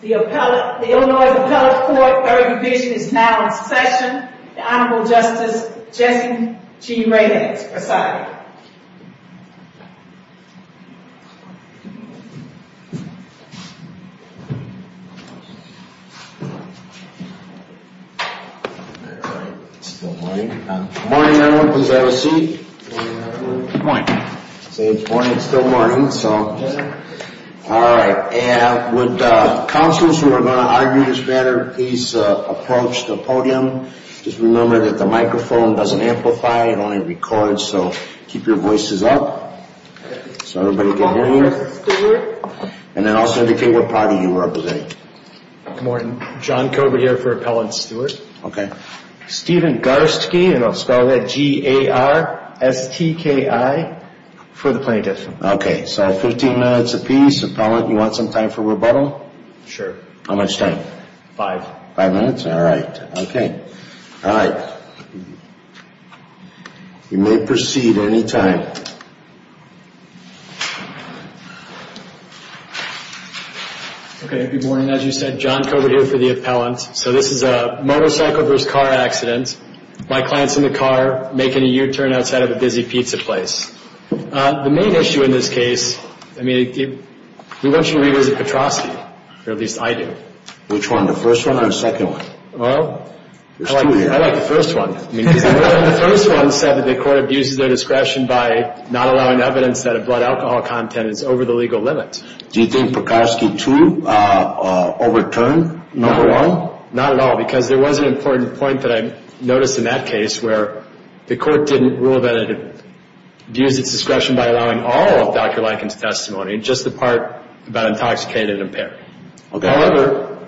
The Illinois Appellate Court Ergovision is now in session. The Honorable Justice Jesse G. Reynolds presiding. Good morning, everyone. Please have a seat. Good morning. Good morning. It's still morning, so... All right. And would counselors who are going to argue this matter please approach the podium. Just remember that the microphone doesn't amplify, it only records, so keep your voices up. So everybody can hear you. Appellant Steward. And then also indicate what party you are representing. Good morning. John Kober here for Appellant Steward. Okay. Steven Garstke, and I'll spell that G-A-R-S-T-K-I, for the plaintiff. Okay. So 15 minutes apiece. Appellant, you want some time for rebuttal? Sure. How much time? Five. Five minutes? All right. Okay. All right. You may proceed any time. Okay. Good morning. As you said, John Kober here for the appellant. So this is a motorcycle versus car accident. My client's in the car making a U-turn outside of a busy pizza place. The main issue in this case, I mean, we want you to revisit Petroski, or at least I do. Which one, the first one or the second one? Well, I like the first one. The first one said that the court abuses their discretion by not allowing evidence that a blood alcohol content is over the legal limit. Do you think Petroski, too, overturned number one? Not at all, because there was an important point that I noticed in that case where the court didn't rule that it abused its discretion by allowing all of Dr. Lankin's testimony, just the part about intoxicated and impaired. However,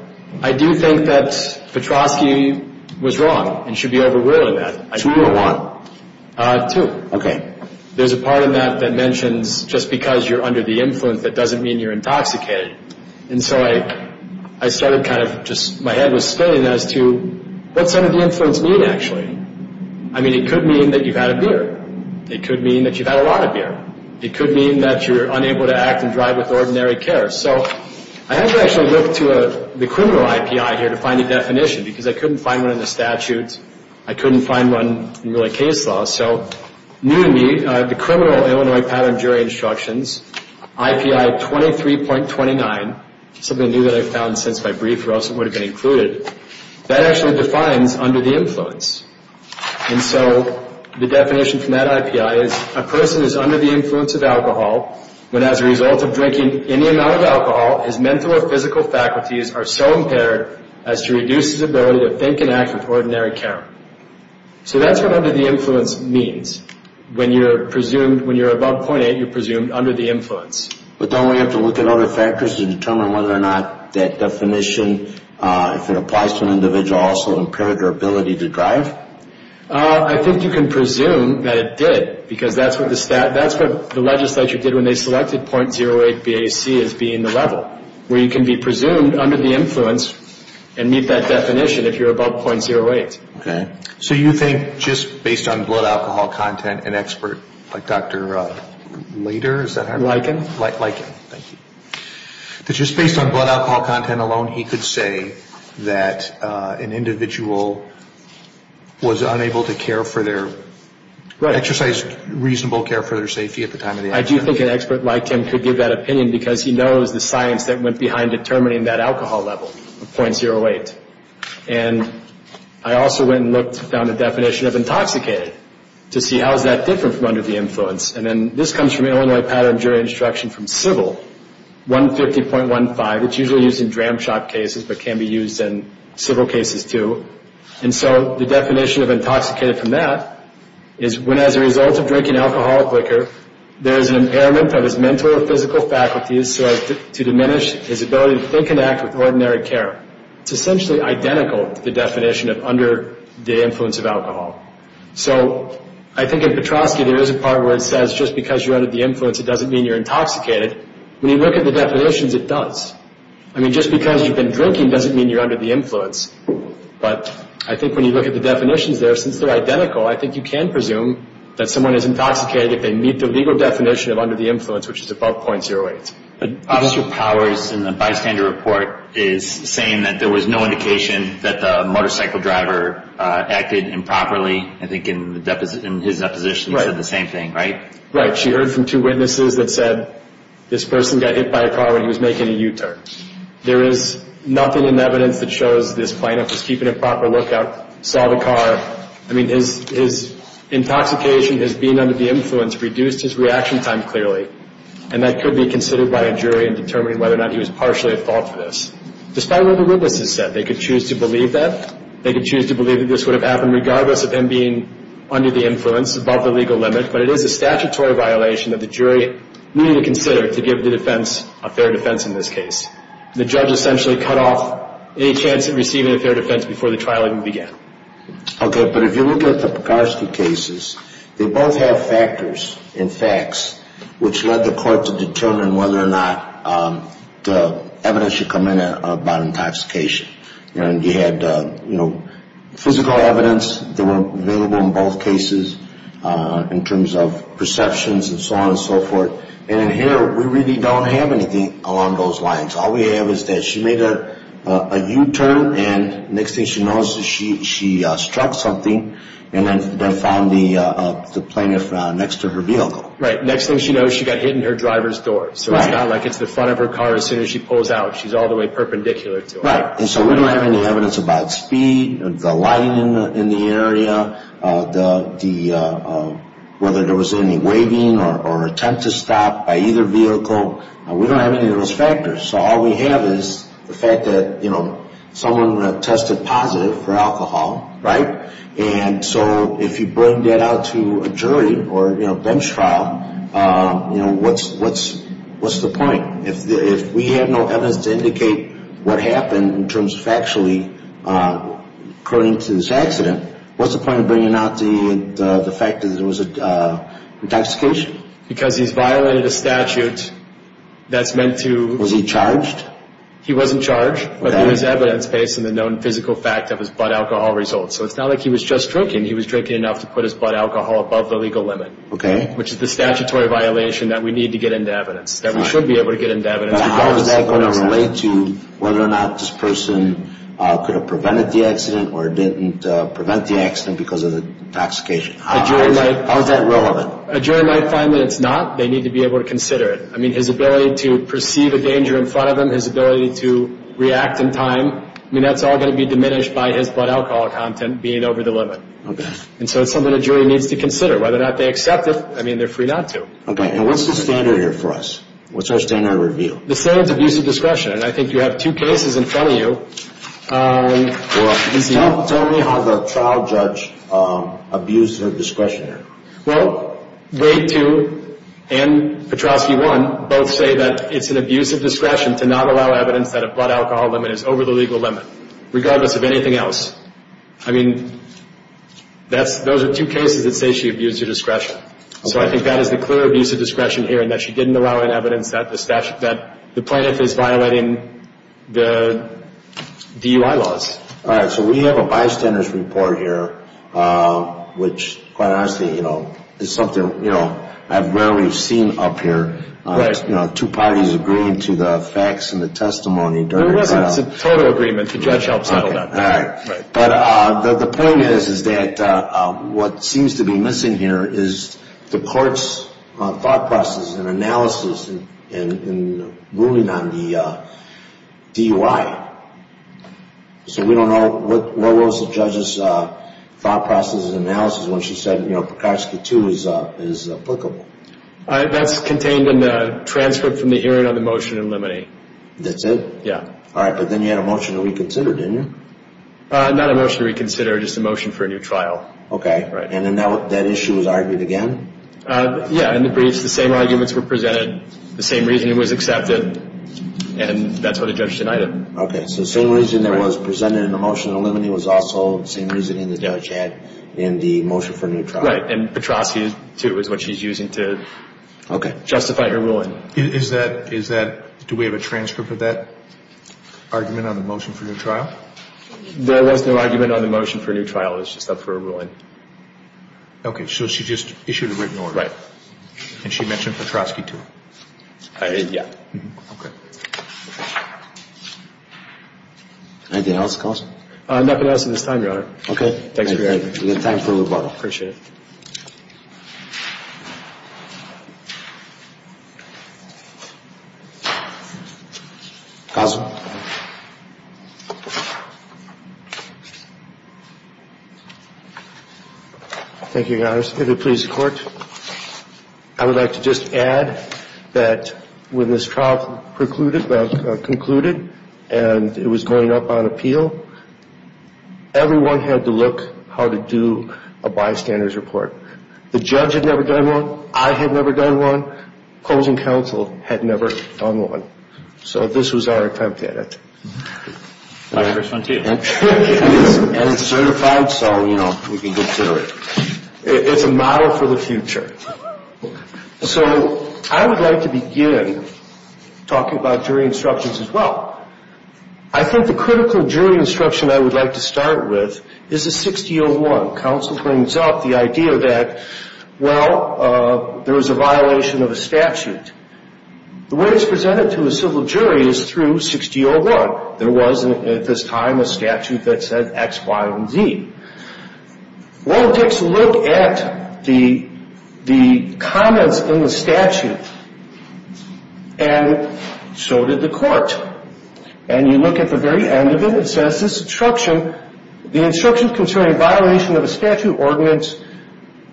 I do think that Petroski was wrong and should be overruled in that. Two or one? Two. Okay. There's a part in that that mentions just because you're under the influence, that doesn't mean you're intoxicated. And so I started kind of just, my head was spinning as to what's under the influence mean, actually? I mean, it could mean that you've had a beer. It could mean that you've had a lot of beer. It could mean that you're unable to act and drive with ordinary care. So I had to actually look to the criminal IPI here to find a definition, because I couldn't find one in the statutes. I couldn't find one in really case laws. So new to me, the criminal Illinois pattern jury instructions, IPI 23.29, something new that I found since my brief or else it would have been included, that actually defines under the influence. And so the definition from that IPI is, a person is under the influence of alcohol when as a result of drinking any amount of alcohol, his mental or physical faculties are so impaired as to reduce his ability to think and act with ordinary care. So that's what under the influence means. When you're presumed, when you're above .8, you're presumed under the influence. But don't we have to look at other factors to determine whether or not that definition, if it applies to an individual, also impaired their ability to drive? I think you can presume that it did, because that's what the legislature did when they selected .08 BAC as being the level, where you can be presumed under the influence and meet that definition if you're above .08. Okay. So you think just based on blood alcohol content, an expert like Dr. Leder, is that how you're? Liken. Liken, thank you. That just based on blood alcohol content alone, he could say that an individual was unable to care for their, exercise reasonable care for their safety at the time of the accident. I do think an expert like him could give that opinion, because he knows the science that went behind determining that alcohol level of .08. And I also went and looked and found a definition of intoxicated, to see how is that different from under the influence. And then this comes from the Illinois Pattern of Jury Instruction from Civil, 150.15. It's usually used in dram shop cases, but can be used in civil cases too. And so the definition of intoxicated from that is, when as a result of drinking alcohol or liquor, there is an impairment of his mental or physical faculties, so as to diminish his ability to think and act with ordinary care. It's essentially identical to the definition of under the influence of alcohol. So I think in Petroski, there is a part where it says, just because you're under the influence, it doesn't mean you're intoxicated. When you look at the definitions, it does. I mean, just because you've been drinking doesn't mean you're under the influence. But I think when you look at the definitions there, since they're identical, I think you can presume that someone is intoxicated if they meet the legal definition of under the influence, which is above .08. Officer Powers in the bystander report is saying that there was no indication that the motorcycle driver acted improperly. I think in his deposition he said the same thing, right? Right. She heard from two witnesses that said this person got hit by a car when he was making a U-turn. There is nothing in the evidence that shows this plaintiff was keeping a proper lookout, saw the car. I mean, his intoxication, his being under the influence reduced his reaction time clearly, and that could be considered by a jury in determining whether or not he was partially at fault for this. Despite what the witnesses said, they could choose to believe that. They could choose to believe that this would have happened regardless of him being under the influence, above the legal limit, but it is a statutory violation that the jury needed to consider to give the defense a fair defense in this case. The judge essentially cut off any chance of receiving a fair defense before the trial even began. Okay, but if you look at the Pekarsky cases, they both have factors and facts which led the court to determine whether or not the evidence should come in about intoxication. You had physical evidence that were available in both cases in terms of perceptions and so on and so forth, and here we really don't have anything along those lines. All we have is that she made a U-turn, and next thing she knows, she struck something, and then found the plaintiff next to her vehicle. Right, next thing she knows, she got hit in her driver's door, so it's not like it's the front of her car as soon as she pulls out. She's all the way perpendicular to it. Right, and so we don't have any evidence about speed, the lighting in the area, whether there was any waving or attempt to stop by either vehicle. We don't have any of those factors, so all we have is the fact that someone tested positive for alcohol, right, and so if you bring that out to a jury or bench trial, what's the point? If we have no evidence to indicate what happened in terms of actually according to this accident, what's the point of bringing out the fact that there was intoxication? Because he's violated a statute that's meant to – Was he charged? He wasn't charged, but there was evidence based on the known physical fact of his blood alcohol results, so it's not like he was just drinking. He was drinking enough to put his blood alcohol above the legal limit, which is the statutory violation that we need to get into evidence, that we should be able to get into evidence. How is that going to relate to whether or not this person could have prevented the accident or didn't prevent the accident because of the intoxication? How is that relevant? Well, a jury might find that it's not. They need to be able to consider it. I mean, his ability to perceive a danger in front of him, his ability to react in time, I mean, that's all going to be diminished by his blood alcohol content being over the limit. Okay. And so it's something a jury needs to consider. Whether or not they accept it, I mean, they're free not to. Okay, and what's the standard here for us? What's our standard of review? The standard is abuse of discretion, and I think you have two cases in front of you. Well, tell me how the trial judge abused her discretion here. Well, Wade 2 and Petrowski 1 both say that it's an abuse of discretion to not allow evidence that a blood alcohol limit is over the legal limit, regardless of anything else. I mean, those are two cases that say she abused her discretion. So I think that is the clear abuse of discretion here in that she didn't allow evidence that the plaintiff is violating the DUI laws. All right, so we have a bystander's report here, which quite honestly is something I've rarely seen up here. Right. Two parties agreeing to the facts and the testimony during the trial. It's a total agreement. The judge helped settle that. All right. But the point is that what seems to be missing here is the court's thought process and analysis in ruling on the DUI. So we don't know what was the judge's thought process and analysis when she said, you know, Pekarski 2 is applicable. That's contained in the transcript from the hearing on the motion in limine. That's it? Yeah. All right, but then you had a motion to reconsider, didn't you? Not a motion to reconsider, just a motion for a new trial. Okay. And then that issue was argued again? Yeah, in the briefs the same arguments were presented, the same reasoning was accepted, and that's what the judge denied it. Okay. So the same reasoning that was presented in the motion in limine was also the same reasoning the judge had in the motion for a new trial. Right, and Pekarski 2 is what she's using to justify her ruling. Okay. Do we have a transcript of that argument on the motion for a new trial? There was no argument on the motion for a new trial. It was just up for a ruling. Okay, so she just issued a written order. Right. And she mentioned Pekarski 2? Yeah. Okay. Anything else, counsel? Nothing else at this time, Your Honor. Okay. Thanks for your time. We have time for rebuttal. Appreciate it. Counsel? Thank you, Your Honor. I would like to just add that when this trial concluded and it was going up on appeal, everyone had to look how to do a bystander's report. The judge had never done one. I had never done one. Closing counsel had never done one. So this was our attempt at it. My first one, too. And it's certified, so, you know, we can consider it. It's a model for the future. So I would like to begin talking about jury instructions as well. I think the critical jury instruction I would like to start with is the 6-0-1. Counsel brings up the idea that, well, there was a violation of a statute. The way it's presented to a civil jury is through 6-0-1. There was at this time a statute that said X, Y, and Z. Well, let's look at the comments in the statute. And so did the court. And you look at the very end of it. It says this instruction, the instructions concerning violation of a statute ordinance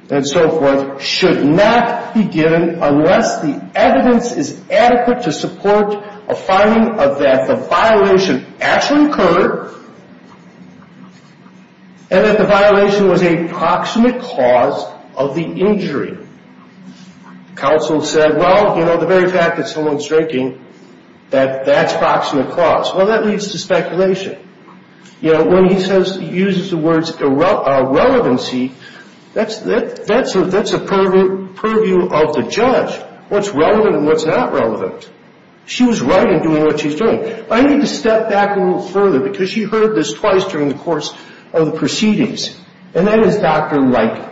and so forth should not be given unless the evidence is adequate to support a finding of that the violation actually occurred and that the violation was a proximate cause of the injury. Counsel said, well, you know, the very fact that someone's drinking, that that's proximate cause. Well, that leads to speculation. You know, when he says he uses the words relevancy, that's a purview of the judge, what's relevant and what's not relevant. She was right in doing what she's doing. I need to step back a little further because she heard this twice during the course of the proceedings. And that is Dr. Leiker.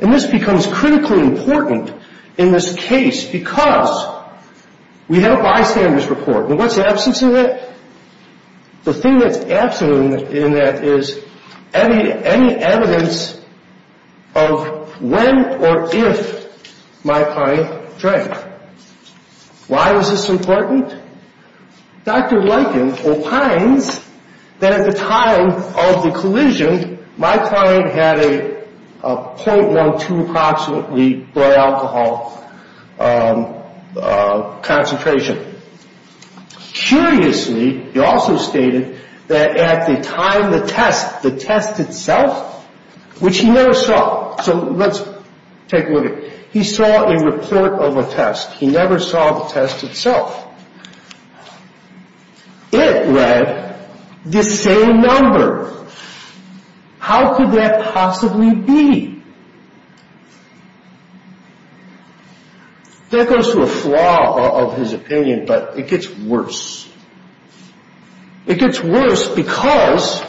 And this becomes critically important in this case because we have a bystander's report. And what's absent in that? The thing that's absent in that is any evidence of when or if my client drank. Why is this important? Dr. Leiker opines that at the time of the collision, my client had a .12 approximately blood alcohol concentration. Curiously, he also stated that at the time the test, the test itself, which he never saw. So let's take a look at it. He saw a report of a test. He never saw the test itself. It read the same number. How could that possibly be? That goes to a flaw of his opinion, but it gets worse. It gets worse because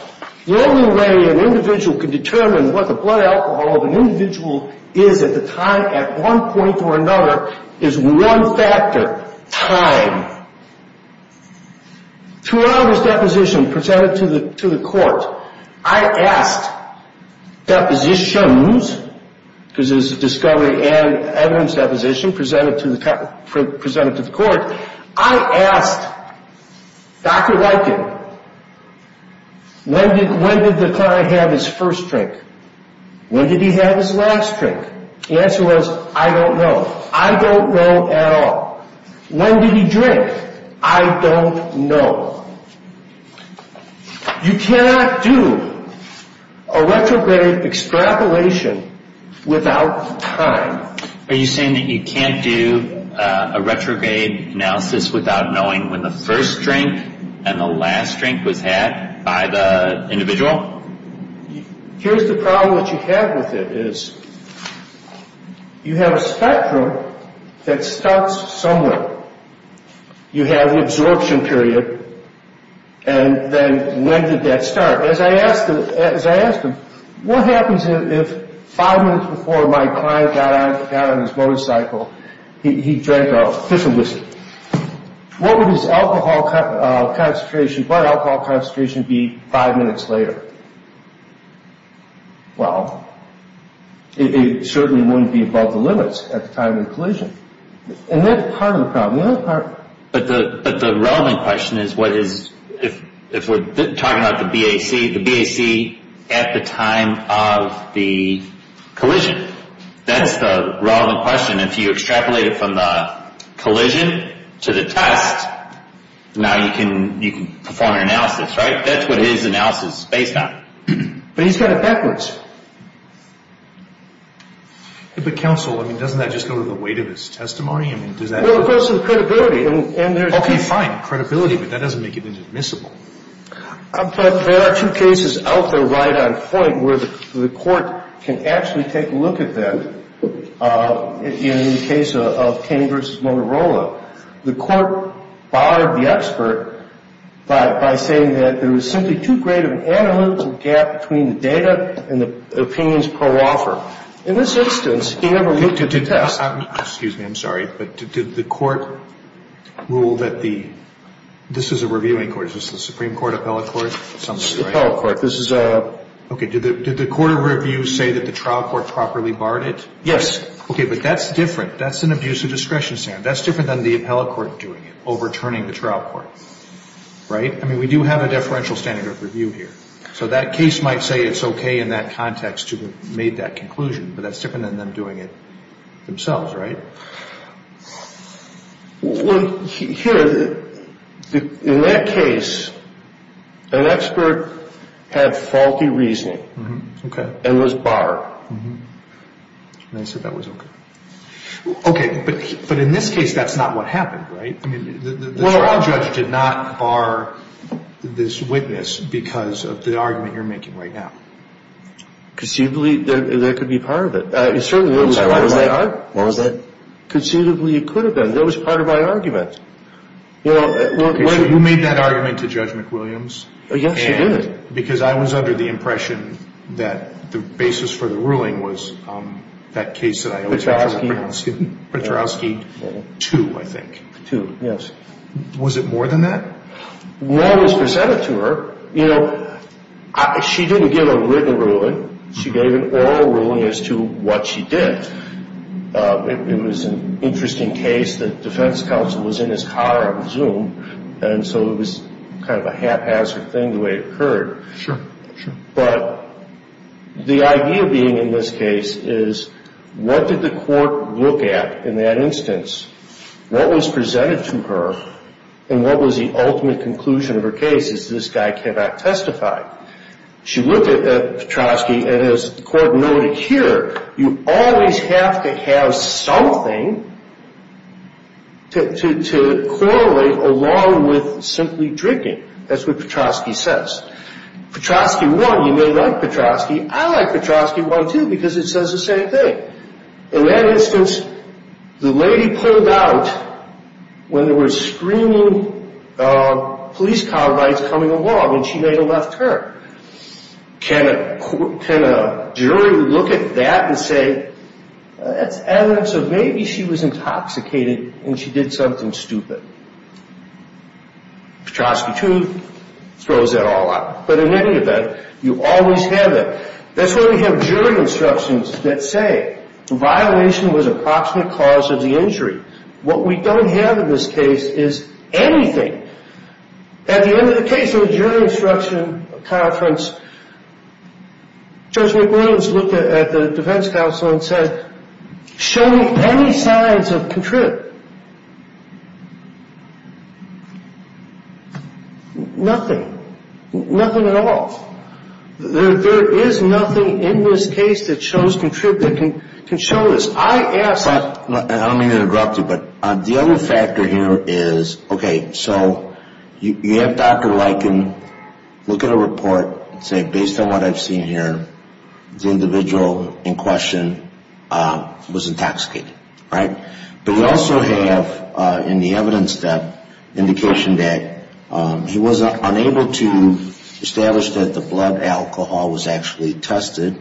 the only way an individual can determine what the blood alcohol of an individual is at the time at one point or another is one factor, time. Throughout his deposition presented to the court, I asked depositions because it was a discovery and evidence deposition presented to the court. I asked Dr. Leiker, when did the client have his first drink? When did he have his last drink? The answer was, I don't know. I don't know at all. When did he drink? I don't know. You cannot do a retrograde extrapolation without time. Are you saying that you can't do a retrograde analysis without knowing when the first drink and the last drink was had by the individual? Here's the problem that you have with it is, you have a spectrum that starts somewhere. You have the absorption period, and then when did that start? As I asked him, what happens if five minutes before my client got on his motorcycle, he drank a fish and whiskey? What would his alcohol concentration be five minutes later? Well, it certainly wouldn't be above the limits at the time of the collision. And that's part of the problem. But the relevant question is, if we're talking about the BAC, the BAC at the time of the collision. That's the relevant question. If you extrapolate it from the collision to the test, now you can perform an analysis, right? That's what his analysis is based on. But he's got it backwards. But counsel, doesn't that just go to the weight of his testimony? Well, of course, and credibility. Okay, fine. Credibility. But that doesn't make it admissible. But there are two cases out there right on point where the court can actually take a look at them. In the case of Kane v. Motorola, the court barred the expert by saying that there was simply too great of an analytical gap between the data and the opinions per offer. In this instance, he never looked at the test. Excuse me. I'm sorry. But did the court rule that the – this is a reviewing court. Is this the Supreme Court appellate court? It's the appellate court. This is a – Okay. Did the court of review say that the trial court properly barred it? Yes. Okay. But that's different. That's an abuse of discretion standard. That's different than the appellate court doing it, overturning the trial court. Right? I mean, we do have a deferential standard of review here. So that case might say it's okay in that context to have made that conclusion. But that's different than them doing it themselves, right? Well, here, in that case, an expert had faulty reasoning. Okay. And was barred. And they said that was okay. Okay. But in this case, that's not what happened, right? The trial judge did not bar this witness because of the argument you're making right now. Conceivably, that could be part of it. It certainly was part of my argument. What was that? Conceivably, it could have been. That was part of my argument. Okay. So you made that argument to Judge McWilliams. Yes, I did. And because I was under the impression that the basis for the ruling was that case that I – Petrosky. Petrosky 2, I think. 2, yes. Was it more than that? More was presented to her. You know, she didn't give a written ruling. She gave an oral ruling as to what she did. It was an interesting case. The defense counsel was in his car, I presume, and so it was kind of a haphazard thing the way it occurred. Sure, sure. But the idea being in this case is what did the court look at in that instance, what was presented to her, and what was the ultimate conclusion of her case is this guy cannot testify. She looked at Petrosky, and as the court noted here, you always have to have something to correlate along with simply drinking. That's what Petrosky says. Petrosky 1, you may like Petrosky. I like Petrosky 1, too, because it says the same thing. In that instance, the lady pulled out when there were screaming police car rides coming along, and she may have left her. Can a jury look at that and say that's evidence of maybe she was intoxicated and she did something stupid? Petrosky 2 throws that all out. But in any event, you always have that. That's why we have jury instructions that say the violation was an approximate cause of the injury. What we don't have in this case is anything. At the end of the case in the jury instruction conference, Judge McWilliams looked at the defense counsel and said, Show me any signs of contrib. Nothing. Nothing at all. There is nothing in this case that shows contrib that can show this. I don't mean to interrupt you, but the other factor here is, okay, so you have Dr. Liken look at a report and say, Based on what I've seen here, the individual in question was intoxicated, right? But you also have in the evidence that indication that he was unable to establish that the blood alcohol was actually tested.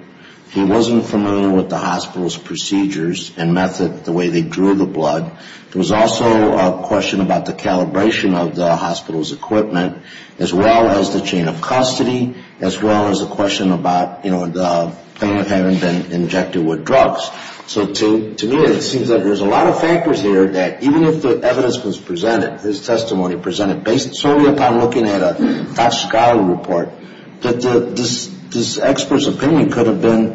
He wasn't familiar with the hospital's procedures and method, the way they drew the blood. There was also a question about the calibration of the hospital's equipment, as well as the chain of custody, as well as the question about, you know, the pain of having been injected with drugs. So to me, it seems that there's a lot of factors here that even if the evidence was presented, his testimony presented, based solely upon looking at a Dr. Schuyler report, that this expert's opinion could have been,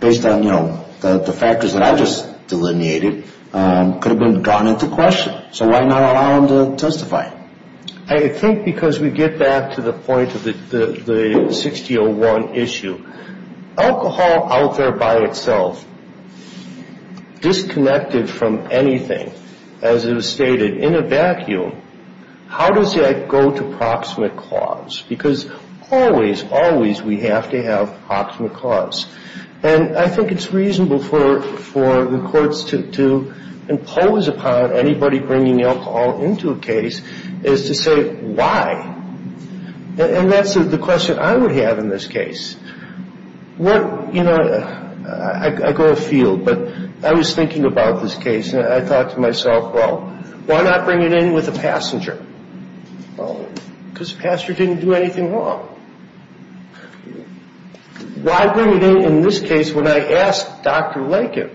based on, you know, the factors that I just delineated, could have been gone into question. So why not allow him to testify? I think because we get back to the point of the 6-0-1 issue. Alcohol out there by itself, disconnected from anything, as it was stated, in a vacuum, how does that go to proximate cause? Because always, always we have to have proximate cause. And I think it's reasonable for the courts to impose upon anybody bringing alcohol into a case is to say, why? And that's the question I would have in this case. You know, I go afield, but I was thinking about this case, and I thought to myself, well, why not bring it in with a passenger? Because a passenger didn't do anything wrong. Why bring it in, in this case, when I asked Dr. Lakin,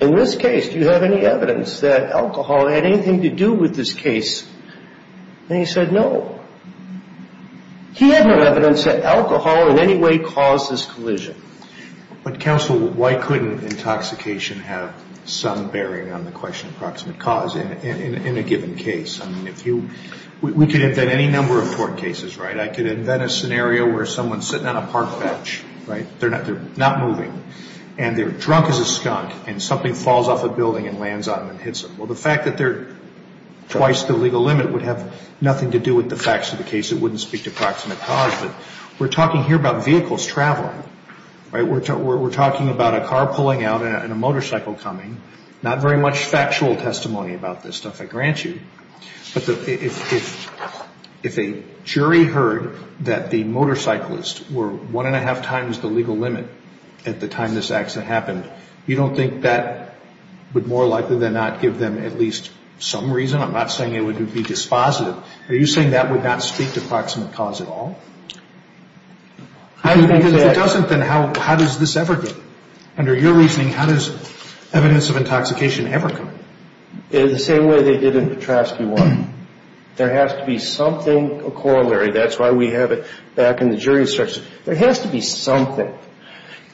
in this case, do you have any evidence that alcohol had anything to do with this case? And he said, no. He had no evidence that alcohol in any way caused this collision. But, counsel, why couldn't intoxication have some bearing on the question of proximate cause in a given case? I mean, if you we could invent any number of court cases, right? I could invent a scenario where someone's sitting on a park bench, right? They're not moving. And they're drunk as a skunk, and something falls off a building and lands on them and hits them. Well, the fact that they're twice the legal limit would have nothing to do with the facts of the case. It wouldn't speak to proximate cause. But we're talking here about vehicles traveling, right? We're talking about a car pulling out and a motorcycle coming. Not very much factual testimony about this stuff, I grant you. But if a jury heard that the motorcyclists were one-and-a-half times the legal limit at the time this accident happened, you don't think that would more likely than not give them at least some reason? I'm not saying it would be dispositive. Are you saying that would not speak to proximate cause at all? If it doesn't, then how does this ever get? Under your reasoning, how does evidence of intoxication ever come? The same way they did in Petrovsky 1. There has to be something corollary. That's why we have it back in the jury instructions. There has to be something.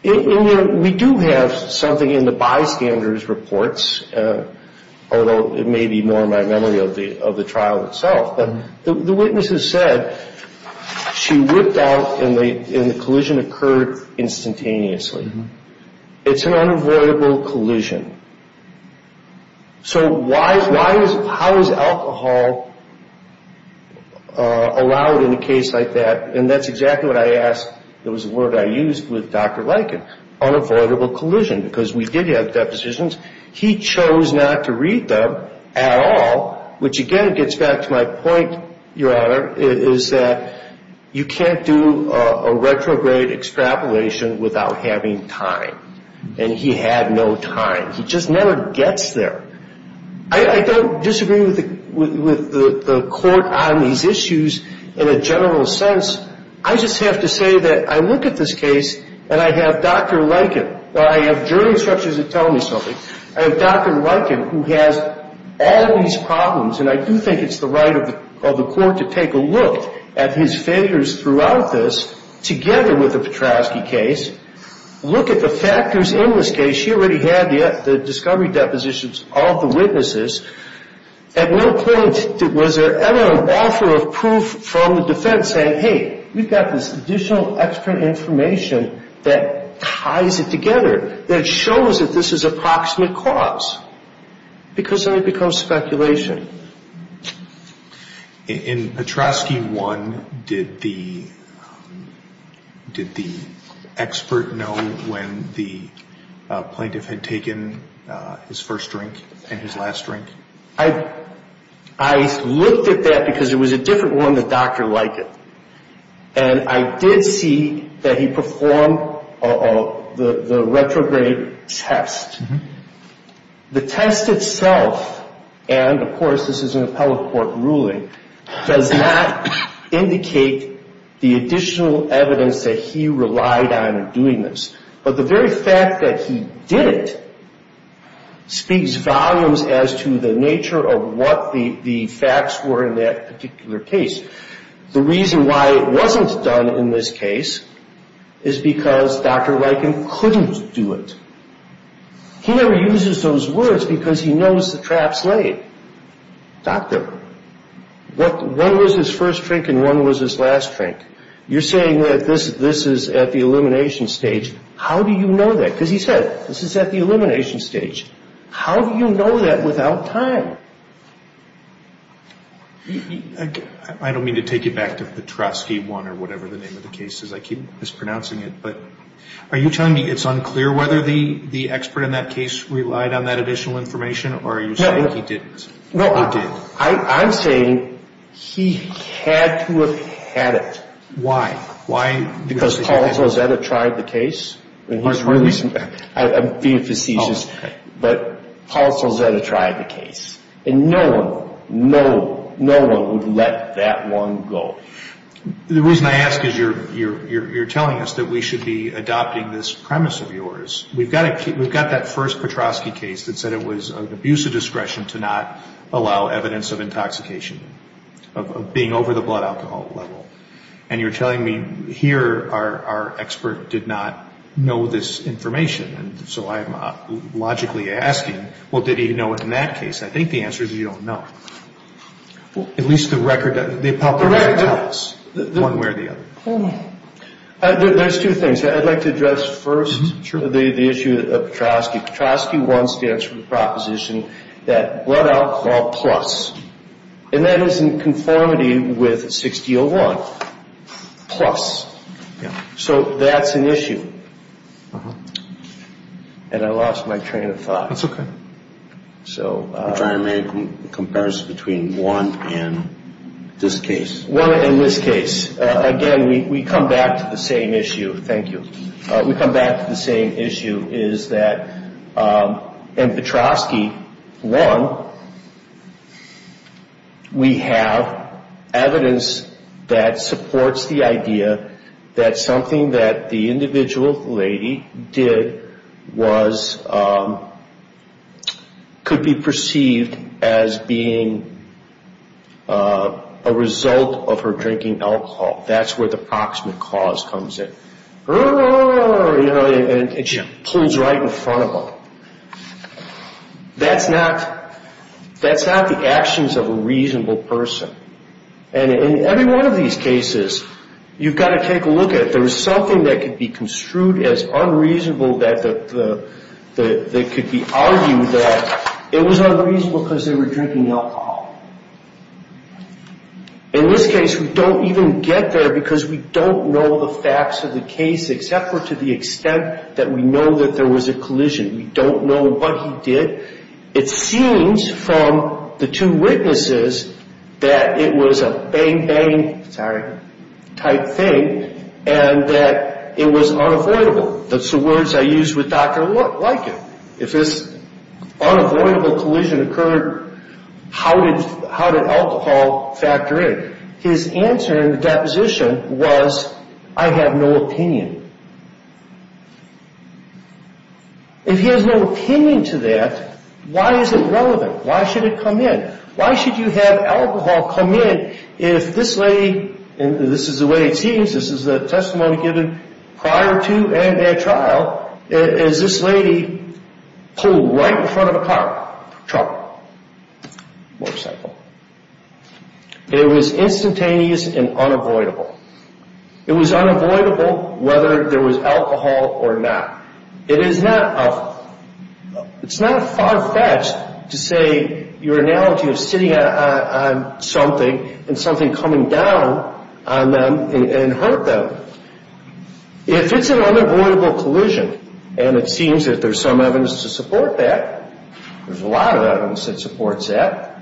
We do have something in the bystander's reports, although it may be more in my memory of the trial itself. The witness has said she whipped out and the collision occurred instantaneously. It's an unavoidable collision. So how is alcohol allowed in a case like that? And that's exactly what I asked. There was a word I used with Dr. Liken, unavoidable collision, because we did have depositions. He chose not to read them at all, which again gets back to my point, Your Honor, is that you can't do a retrograde extrapolation without having time. And he had no time. He just never gets there. I don't disagree with the court on these issues in a general sense. I just have to say that I look at this case and I have Dr. Liken. I have jury instructions that tell me something. I have Dr. Liken, who has all these problems, and I do think it's the right of the court to take a look at his figures throughout this, together with the Petrovsky case, look at the factors in this case. She already had the discovery depositions of the witnesses. At no point was there ever an offer of proof from the defense saying, hey, we've got this additional extra information that ties it together, that shows that this is approximate cause, because then it becomes speculation. In Petrovsky 1, did the expert know when the plaintiff had taken his first drink and his last drink? I looked at that because it was a different one than Dr. Liken. And I did see that he performed the retrograde test. The test itself, and of course this is an appellate court ruling, does not indicate the additional evidence that he relied on in doing this. But the very fact that he did it speaks volumes as to the nature of what the facts were in that particular case. The reason why it wasn't done in this case is because Dr. Liken couldn't do it. He never uses those words because he knows the traps laid. Doctor, one was his first drink and one was his last drink. You're saying that this is at the elimination stage. How do you know that? Because he said this is at the elimination stage. How do you know that without time? I don't mean to take you back to Petrovsky 1 or whatever the name of the case is. I keep mispronouncing it. But are you telling me it's unclear whether the expert in that case relied on that additional information, or are you saying he didn't or did? No, I'm saying he had to have had it. Why? Because Paul Solzetta tried the case. But Paul Solzetta tried the case. And no one, no one would let that one go. The reason I ask is you're telling us that we should be adopting this premise of yours. We've got that first Petrovsky case that said it was an abuse of discretion to not allow evidence of intoxication, of being over the blood alcohol level. And you're telling me here our expert did not know this information. And so I'm logically asking, well, did he know it in that case? I think the answer is you don't know. At least the record tells one way or the other. There's two things. I'd like to address first the issue of Petrovsky. Petrovsky 1 stands for the proposition that blood alcohol plus. And that is in conformity with 6D01, plus. So that's an issue. And I lost my train of thought. That's okay. So. I'm trying to make a comparison between 1 and this case. 1 and this case. Again, we come back to the same issue. Thank you. We come back to the same issue is that in Petrovsky 1, we have evidence that supports the idea that something that the individual lady did could be perceived as being a result of her drinking alcohol. That's where the proximate cause comes in. And she pulls right in front of him. That's not the actions of a reasonable person. And in every one of these cases, you've got to take a look at it. There was something that could be construed as unreasonable that could be argued that it was unreasonable because they were drinking alcohol. In this case, we don't even get there because we don't know the facts of the case, except for to the extent that we know that there was a collision. We don't know what he did. It seems from the two witnesses that it was a bang, bang, sorry, type thing, and that it was unavoidable. That's the words I used with Dr. Liken. If this unavoidable collision occurred, how did alcohol factor in? His answer in the deposition was, I have no opinion. If he has no opinion to that, why is it relevant? Why should it come in? Why should you have alcohol come in if this lady, and this is the way it seems, this is the testimony given prior to and at trial, is this lady pulled right in front of a car, truck, motorcycle. It was instantaneous and unavoidable. It was unavoidable whether there was alcohol or not. It is not a far-fetched to say your analogy of sitting on something and something coming down on them and hurt them. If it's an unavoidable collision, and it seems that there's some evidence to support that, there's a lot of evidence that supports that,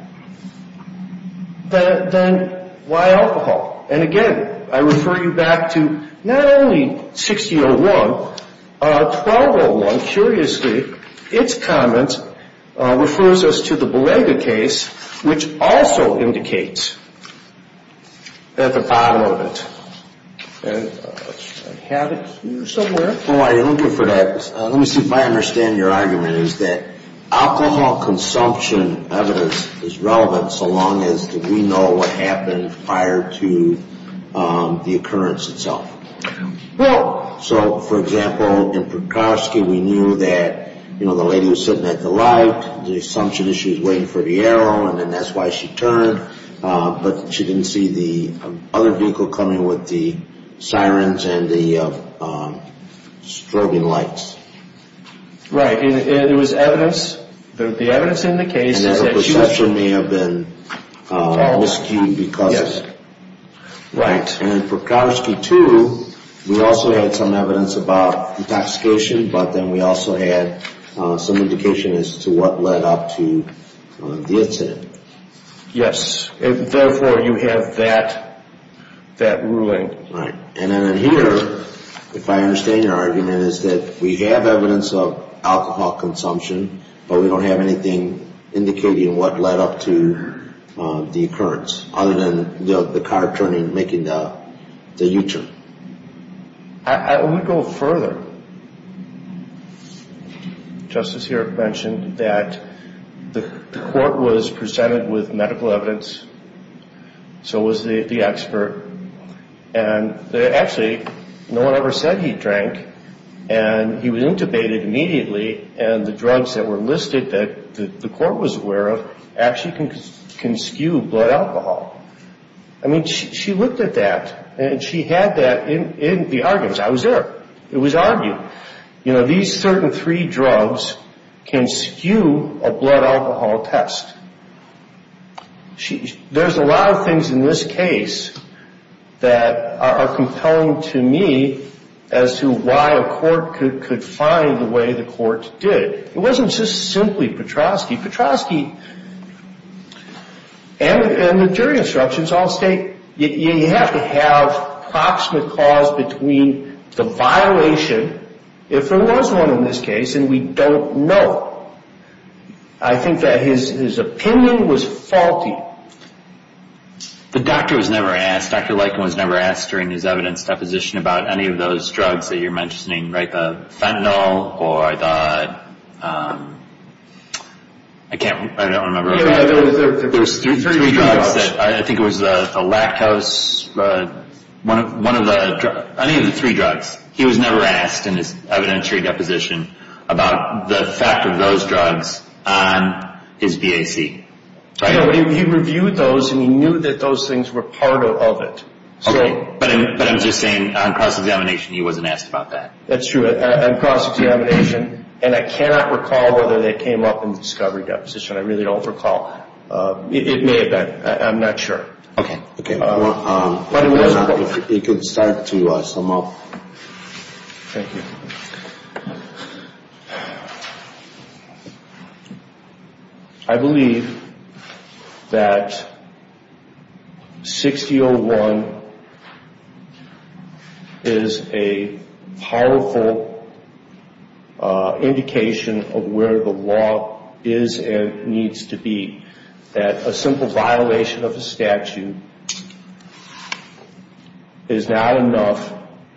then why alcohol? And, again, I refer you back to not only 6001, 1201, curiously, its comment refers us to the Belaga case, which also indicates at the bottom of it. And I have it here somewhere. Oh, I'm looking for that. Let me see if I understand your argument is that alcohol consumption evidence is relevant so long as we know what happened prior to the occurrence itself. So, for example, in Prakowski, we knew that, you know, the lady was sitting at the light. The assumption is she was waiting for the arrow, and then that's why she turned. But she didn't see the other vehicle coming with the sirens and the strobing lights. Right, and there was evidence. The evidence in the case is that she was drunk. And the perception may have been almost skewed because of it. Right. And in Prakowski 2, we also had some evidence about intoxication, but then we also had some indication as to what led up to the incident. Yes, and therefore you have that ruling. Right, and then here, if I understand your argument, is that we have evidence of alcohol consumption, but we don't have anything indicating what led up to the occurrence other than the car turning and making the U-turn. I want to go further. Justice Herrick mentioned that the court was presented with medical evidence, so was the expert, and actually no one ever said he drank, and he was intubated immediately, and the drugs that were listed that the court was aware of actually can skew blood alcohol. I mean, she looked at that, and she had that in the arguments. I was there. It was argued. You know, these certain three drugs can skew a blood alcohol test. There's a lot of things in this case that are compelling to me as to why a court could find the way the court did. It wasn't just simply Petroski. Petroski and the jury instructions all state you have to have approximate cause between the violation, if there was one in this case, and we don't know. I think that his opinion was faulty. The doctor was never asked. Dr. Likin was never asked during his evidence deposition about any of those drugs that you're mentioning, right, the fentanyl or the, I can't, I don't remember. There were three drugs. I think it was the lactose, one of the, any of the three drugs. He was never asked in his evidentiary deposition about the fact of those drugs on his BAC. He reviewed those, and he knew that those things were part of it. Okay. But I'm just saying on cross-examination he wasn't asked about that. That's true. On cross-examination, and I cannot recall whether they came up in the discovery deposition. I really don't recall. It may have been. I'm not sure. Okay. If you could start to sum up. Thank you. I believe that 6001 is a powerful indication of where the law is and needs to be, that a simple violation of the statute is not enough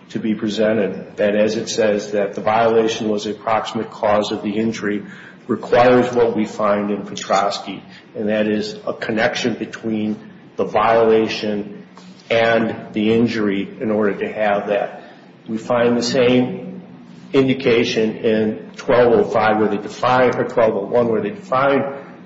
to be presented, that as it says, that the violation was an approximate cause of the injury, requires what we find in Petrosky, and that is a connection between the violation and the injury in order to have that. We find the same indication in 1205 where they defined, or 1201 where they defined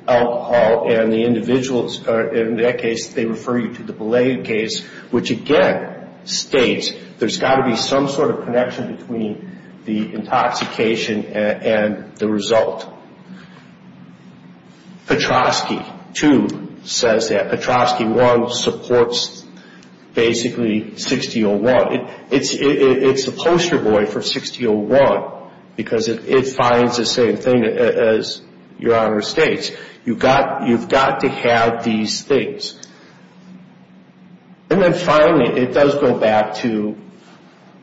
alcohol, and the individuals, in that case, they refer you to the Belay case, which again states there's got to be some sort of connection between the intoxication and the result. Petrosky 2 says that. Petrosky 1 supports basically 6001. It's a poster boy for 6001 because it finds the same thing as Your Honor states. You've got to have these things. And then finally, it does go back to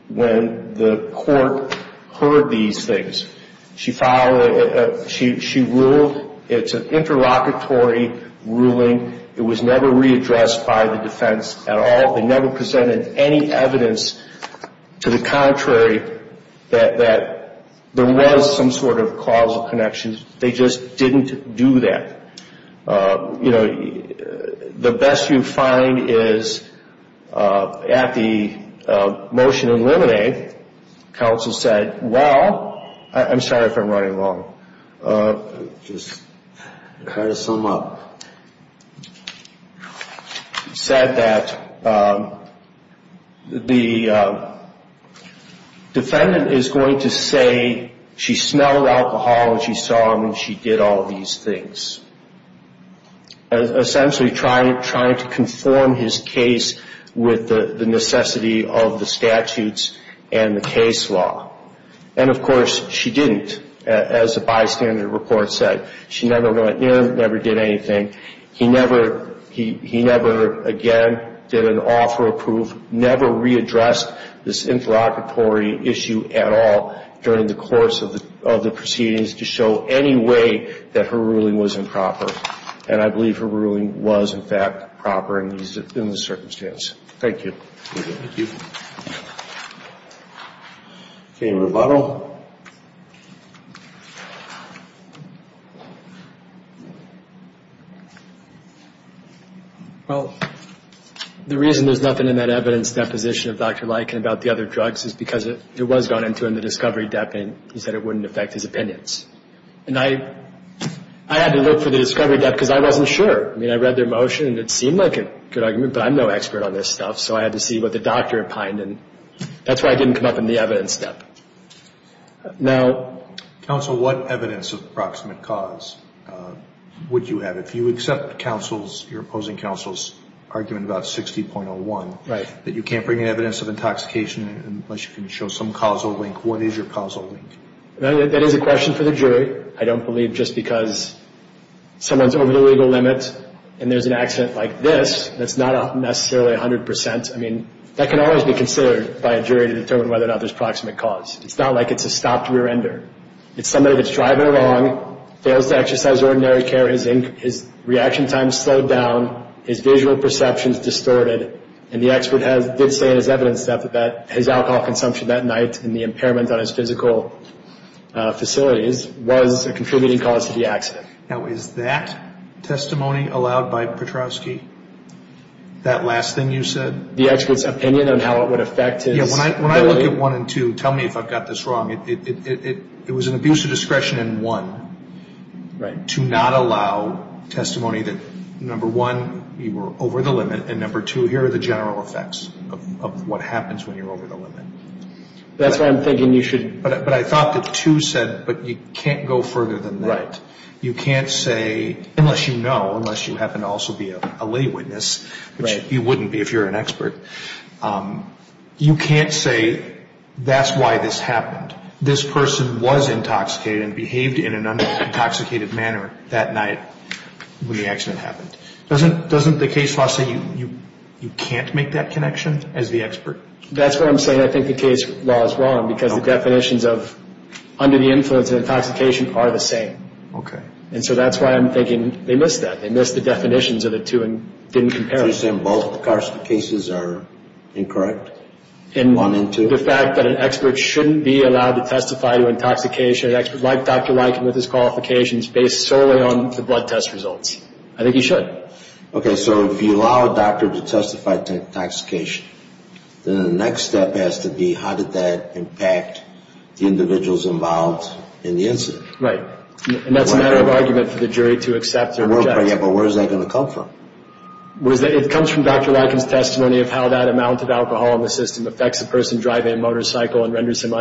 when the court heard these things. She ruled it's an interlocutory ruling. It was never readdressed by the defense at all. They never presented any evidence to the contrary that there was some sort of causal connection. They just didn't do that. You know, the best you find is at the motion in limine, counsel said, well, I'm sorry if I'm running long. Just kind of sum up. Said that the defendant is going to say she smelled alcohol and she saw him and she did all these things. Essentially trying to conform his case with the necessity of the statutes and the case law. And, of course, she didn't, as the bystander report said. She never went near him, never did anything. He never, again, did an offer of proof, never readdressed this interlocutory issue at all during the course of the proceedings to show any way that her ruling was improper. And I believe her ruling was, in fact, proper in the circumstance. Thank you. Thank you. Any rebuttal? Well, the reason there's nothing in that evidence deposition of Dr. Leikin about the other drugs is because it was gone into in the discovery depth and he said it wouldn't affect his opinions. And I had to look for the discovery depth because I wasn't sure. I mean, I read their motion and it seemed like a good argument, but I'm no expert on this stuff. So I had to see what the doctor opined and that's why I didn't come up in the evidence step. Counsel, what evidence of proximate cause would you have? If you accept counsel's, your opposing counsel's argument about 60.01, that you can't bring in evidence of intoxication unless you can show some causal link. What is your causal link? That is a question for the jury. I don't believe just because someone's over the legal limit and there's an accident like this that's not necessarily 100%. I mean, that can always be considered by a jury to determine whether or not there's proximate cause. It's not like it's a stopped rear-ender. It's somebody that's driving along, fails to exercise ordinary care, his reaction time's slowed down, his visual perception's distorted, and the expert did say in his evidence step that his alcohol consumption that night and the impairment on his physical facilities was a contributing cause to the accident. Now, is that testimony allowed by Petrovsky, that last thing you said? The expert's opinion on how it would affect his... Yeah, when I look at one and two, tell me if I've got this wrong. It was an abuse of discretion in one to not allow testimony that, number one, you were over the limit, and number two, here are the general effects of what happens when you're over the limit. That's why I'm thinking you should... But I thought that two said, but you can't go further than that. You can't say, unless you know, unless you happen to also be a lay witness, which you wouldn't be if you're an expert, you can't say that's why this happened. This person was intoxicated and behaved in an intoxicated manner that night when the accident happened. Doesn't the case law say you can't make that connection as the expert? That's what I'm saying. I think the case law is wrong because the definitions of under the influence and intoxication are the same. Okay. And so that's why I'm thinking they missed that. They missed the definitions of the two and didn't compare them. So you're saying both of the cases are incorrect, one and two? And the fact that an expert shouldn't be allowed to testify to intoxication, an expert like Dr. Leiken with his qualifications based solely on the blood test results. I think he should. Right. Okay, so if you allow a doctor to testify to intoxication, then the next step has to be how did that impact the individuals involved in the incident. Right. And that's a matter of argument for the jury to accept their objection. Yeah, but where is that going to come from? It comes from Dr. Leiken's testimony of how that amount of alcohol in the system affects a person driving a motorcycle and renders them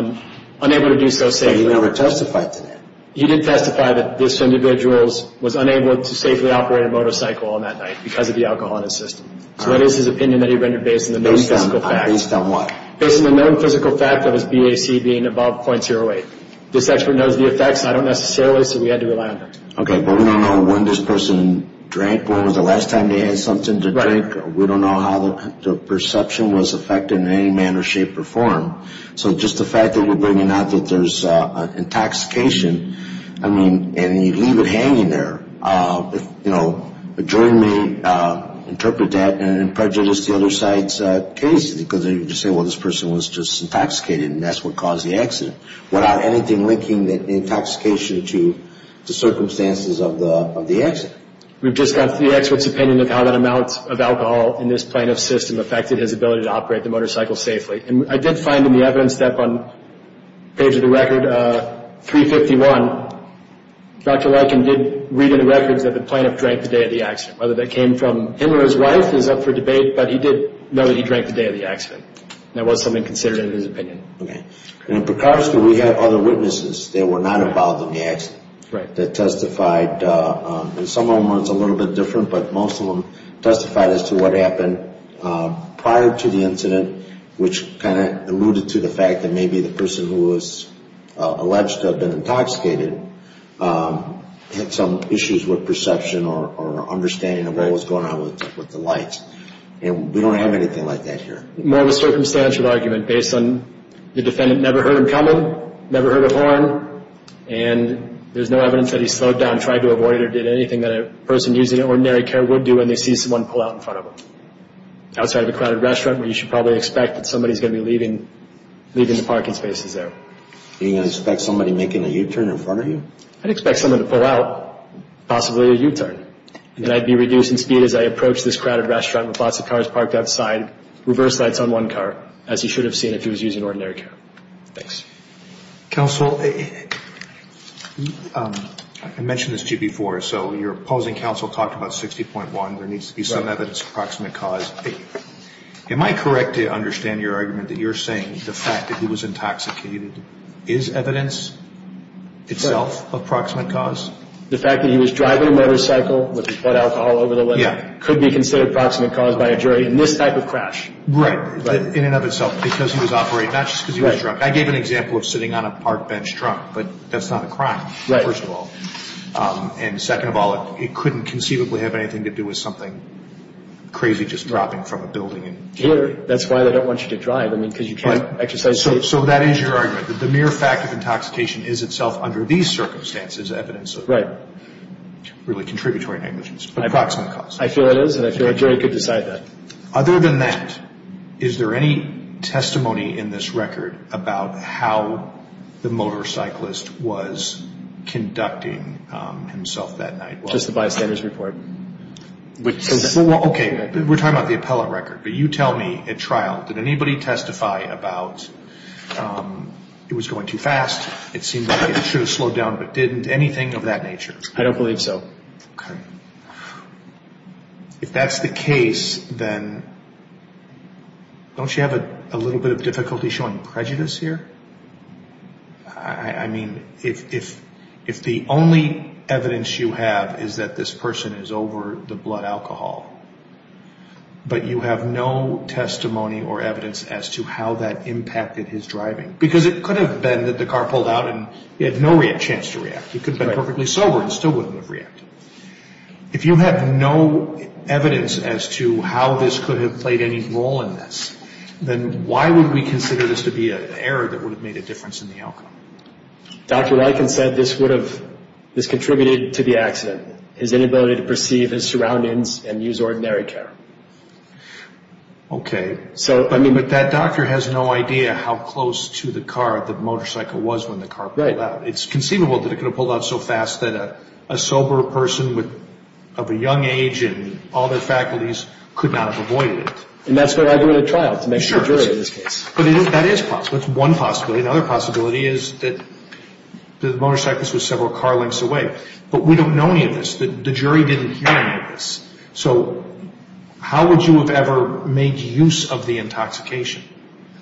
unable to do so safely. But he never testified to that. He did testify that this individual was unable to safely operate a motorcycle on that night because of the alcohol in his system. So that is his opinion that he rendered based on the known physical fact. Based on what? Based on the known physical fact of his BAC being above .08. This expert knows the effects. I don't necessarily, so we had to rely on him. Okay, but we don't know when this person drank, when was the last time they had something to drink. Right. We don't know how the perception was affected in any manner, shape, or form. So just the fact that you're bringing up that there's intoxication, I mean, and you leave it hanging there. If, you know, a jury may interpret that and prejudice the other side's case because they can just say, well, this person was just intoxicated and that's what caused the accident, without anything linking the intoxication to the circumstances of the accident. We've just got the expert's opinion of how that amount of alcohol in this plaintiff's system affected his ability to operate the motorcycle safely. And I did find in the evidence that on the page of the record, 351, Dr. Lykin did read in the records that the plaintiff drank the day of the accident. Whether that came from him or his wife is up for debate, but he did know that he drank the day of the accident. That was something considered in his opinion. Okay. And in Precarious, do we have other witnesses that were not involved in the accident? Right. That testified, and some of them were a little bit different, but most of them testified as to what happened prior to the incident, which kind of alluded to the fact that maybe the person who was alleged to have been intoxicated had some issues with perception or understanding of what was going on with the lights. And we don't have anything like that here. More of a circumstantial argument based on the defendant never heard him coming, never heard a horn, and there's no evidence that he slowed down, tried to avoid it, or did anything that a person using ordinary care would do when they see someone pull out in front of them. Outside of a crowded restaurant, where you should probably expect that somebody is going to be leaving the parking spaces there. Are you going to expect somebody making a U-turn in front of you? I'd expect someone to pull out, possibly a U-turn. And I'd be reducing speed as I approach this crowded restaurant with lots of cars parked outside, reverse lights on one car, as you should have seen if he was using ordinary care. Thanks. Counsel, I mentioned this to you before. So your opposing counsel talked about 60.1. There needs to be some evidence of proximate cause. Am I correct to understand your argument that you're saying the fact that he was intoxicated is evidence itself of proximate cause? The fact that he was driving a motorcycle with blood alcohol all over the place could be considered proximate cause by a jury in this type of crash. Right. In and of itself, because he was operating, not just because he was drunk. I gave an example of sitting on a park bench drunk, but that's not a crime, first of all. And second of all, it couldn't conceivably have anything to do with something crazy just dropping from a building. That's why they don't want you to drive, because you can't exercise safety. So that is your argument, that the mere fact of intoxication is itself under these circumstances evidence of really contributory negligence, but proximate cause. I feel it is, and I feel a jury could decide that. Other than that, is there any testimony in this record about how the motorcyclist was conducting himself that night? Just the bystander's report. Okay, we're talking about the appellate record, but you tell me at trial, did anybody testify about it was going too fast, it seemed like it should have slowed down, but didn't, anything of that nature? I don't believe so. Okay. If that's the case, then don't you have a little bit of difficulty showing prejudice here? I mean, if the only evidence you have is that this person is over the blood alcohol, but you have no testimony or evidence as to how that impacted his driving, because it could have been that the car pulled out and he had no chance to react. He could have been perfectly sober and still wouldn't have reacted. If you have no evidence as to how this could have played any role in this, then why would we consider this to be an error that would have made a difference in the outcome? Dr. Lykins said this contributed to the accident, his inability to perceive his surroundings and use ordinary care. Okay, but that doctor has no idea how close to the car the motorcycle was when the car pulled out. It's conceivable that it could have pulled out so fast that a sober person of a young age and all their faculties could not have avoided it. And that's what I agree with at trial, to make sure it's true in this case. But that is possible. That's one possibility. Another possibility is that the motorcyclist was several car lengths away. But we don't know any of this. The jury didn't hear any of this. So how would you have ever made use of the intoxication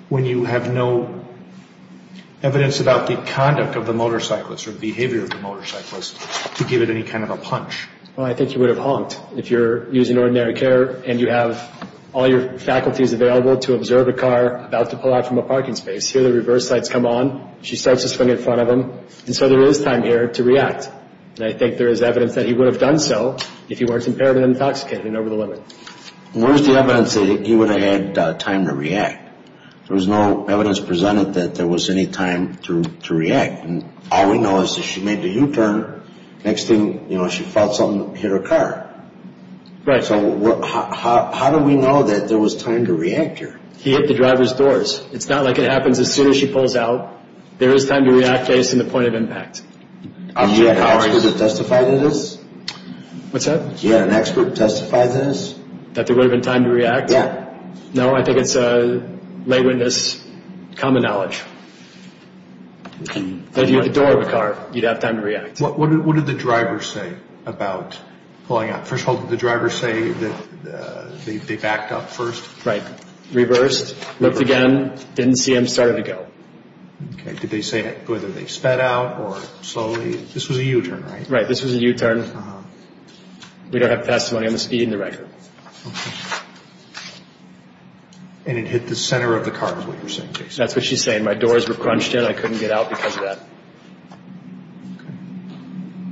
when you have no evidence about the conduct of the motorcyclist or behavior of the motorcyclist to give it any kind of a punch? Well, I think he would have honked if you're using ordinary care and you have all your faculties available to observe a car about to pull out from a parking space. Here the reverse lights come on. She starts to swing in front of him. And so there is time here to react. And I think there is evidence that he would have done so if he weren't so impaired and intoxicated and over the limit. Where's the evidence that he would have had time to react? There was no evidence presented that there was any time to react. And all we know is that she made the U-turn. Next thing, you know, she felt something hit her car. Right. So how do we know that there was time to react here? He hit the driver's doors. It's not like it happens as soon as she pulls out. There is time to react based on the point of impact. Did you have an expert to testify to this? What's that? Did you have an expert to testify to this? That there would have been time to react? Yeah. No, I think it's lay witness, common knowledge. If you hit the door of a car, you'd have time to react. What did the driver say about pulling out? First of all, did the driver say that they backed up first? Right. Reversed, looked again, didn't see him, started to go. Okay. Did they say whether they sped out or slowly? This was a U-turn, right? Right. This was a U-turn. Uh-huh. We don't have testimony on the speed and the record. Okay. And it hit the center of the car is what you're saying, Jason? That's what she's saying. My doors were crunched in. I couldn't get out because of that. Okay.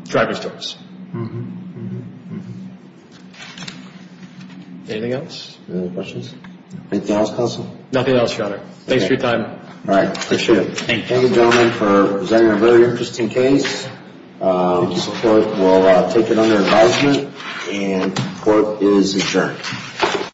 Driver's doors. Mm-hmm. Mm-hmm. Mm-hmm. Anything else? Any other questions? Anything else, counsel? Nothing else, Your Honor. Thanks for your time. All right. Appreciate it. Thank you. Thank you, gentlemen, for presenting a very interesting case. The court will take it under advisement, and the court is adjourned.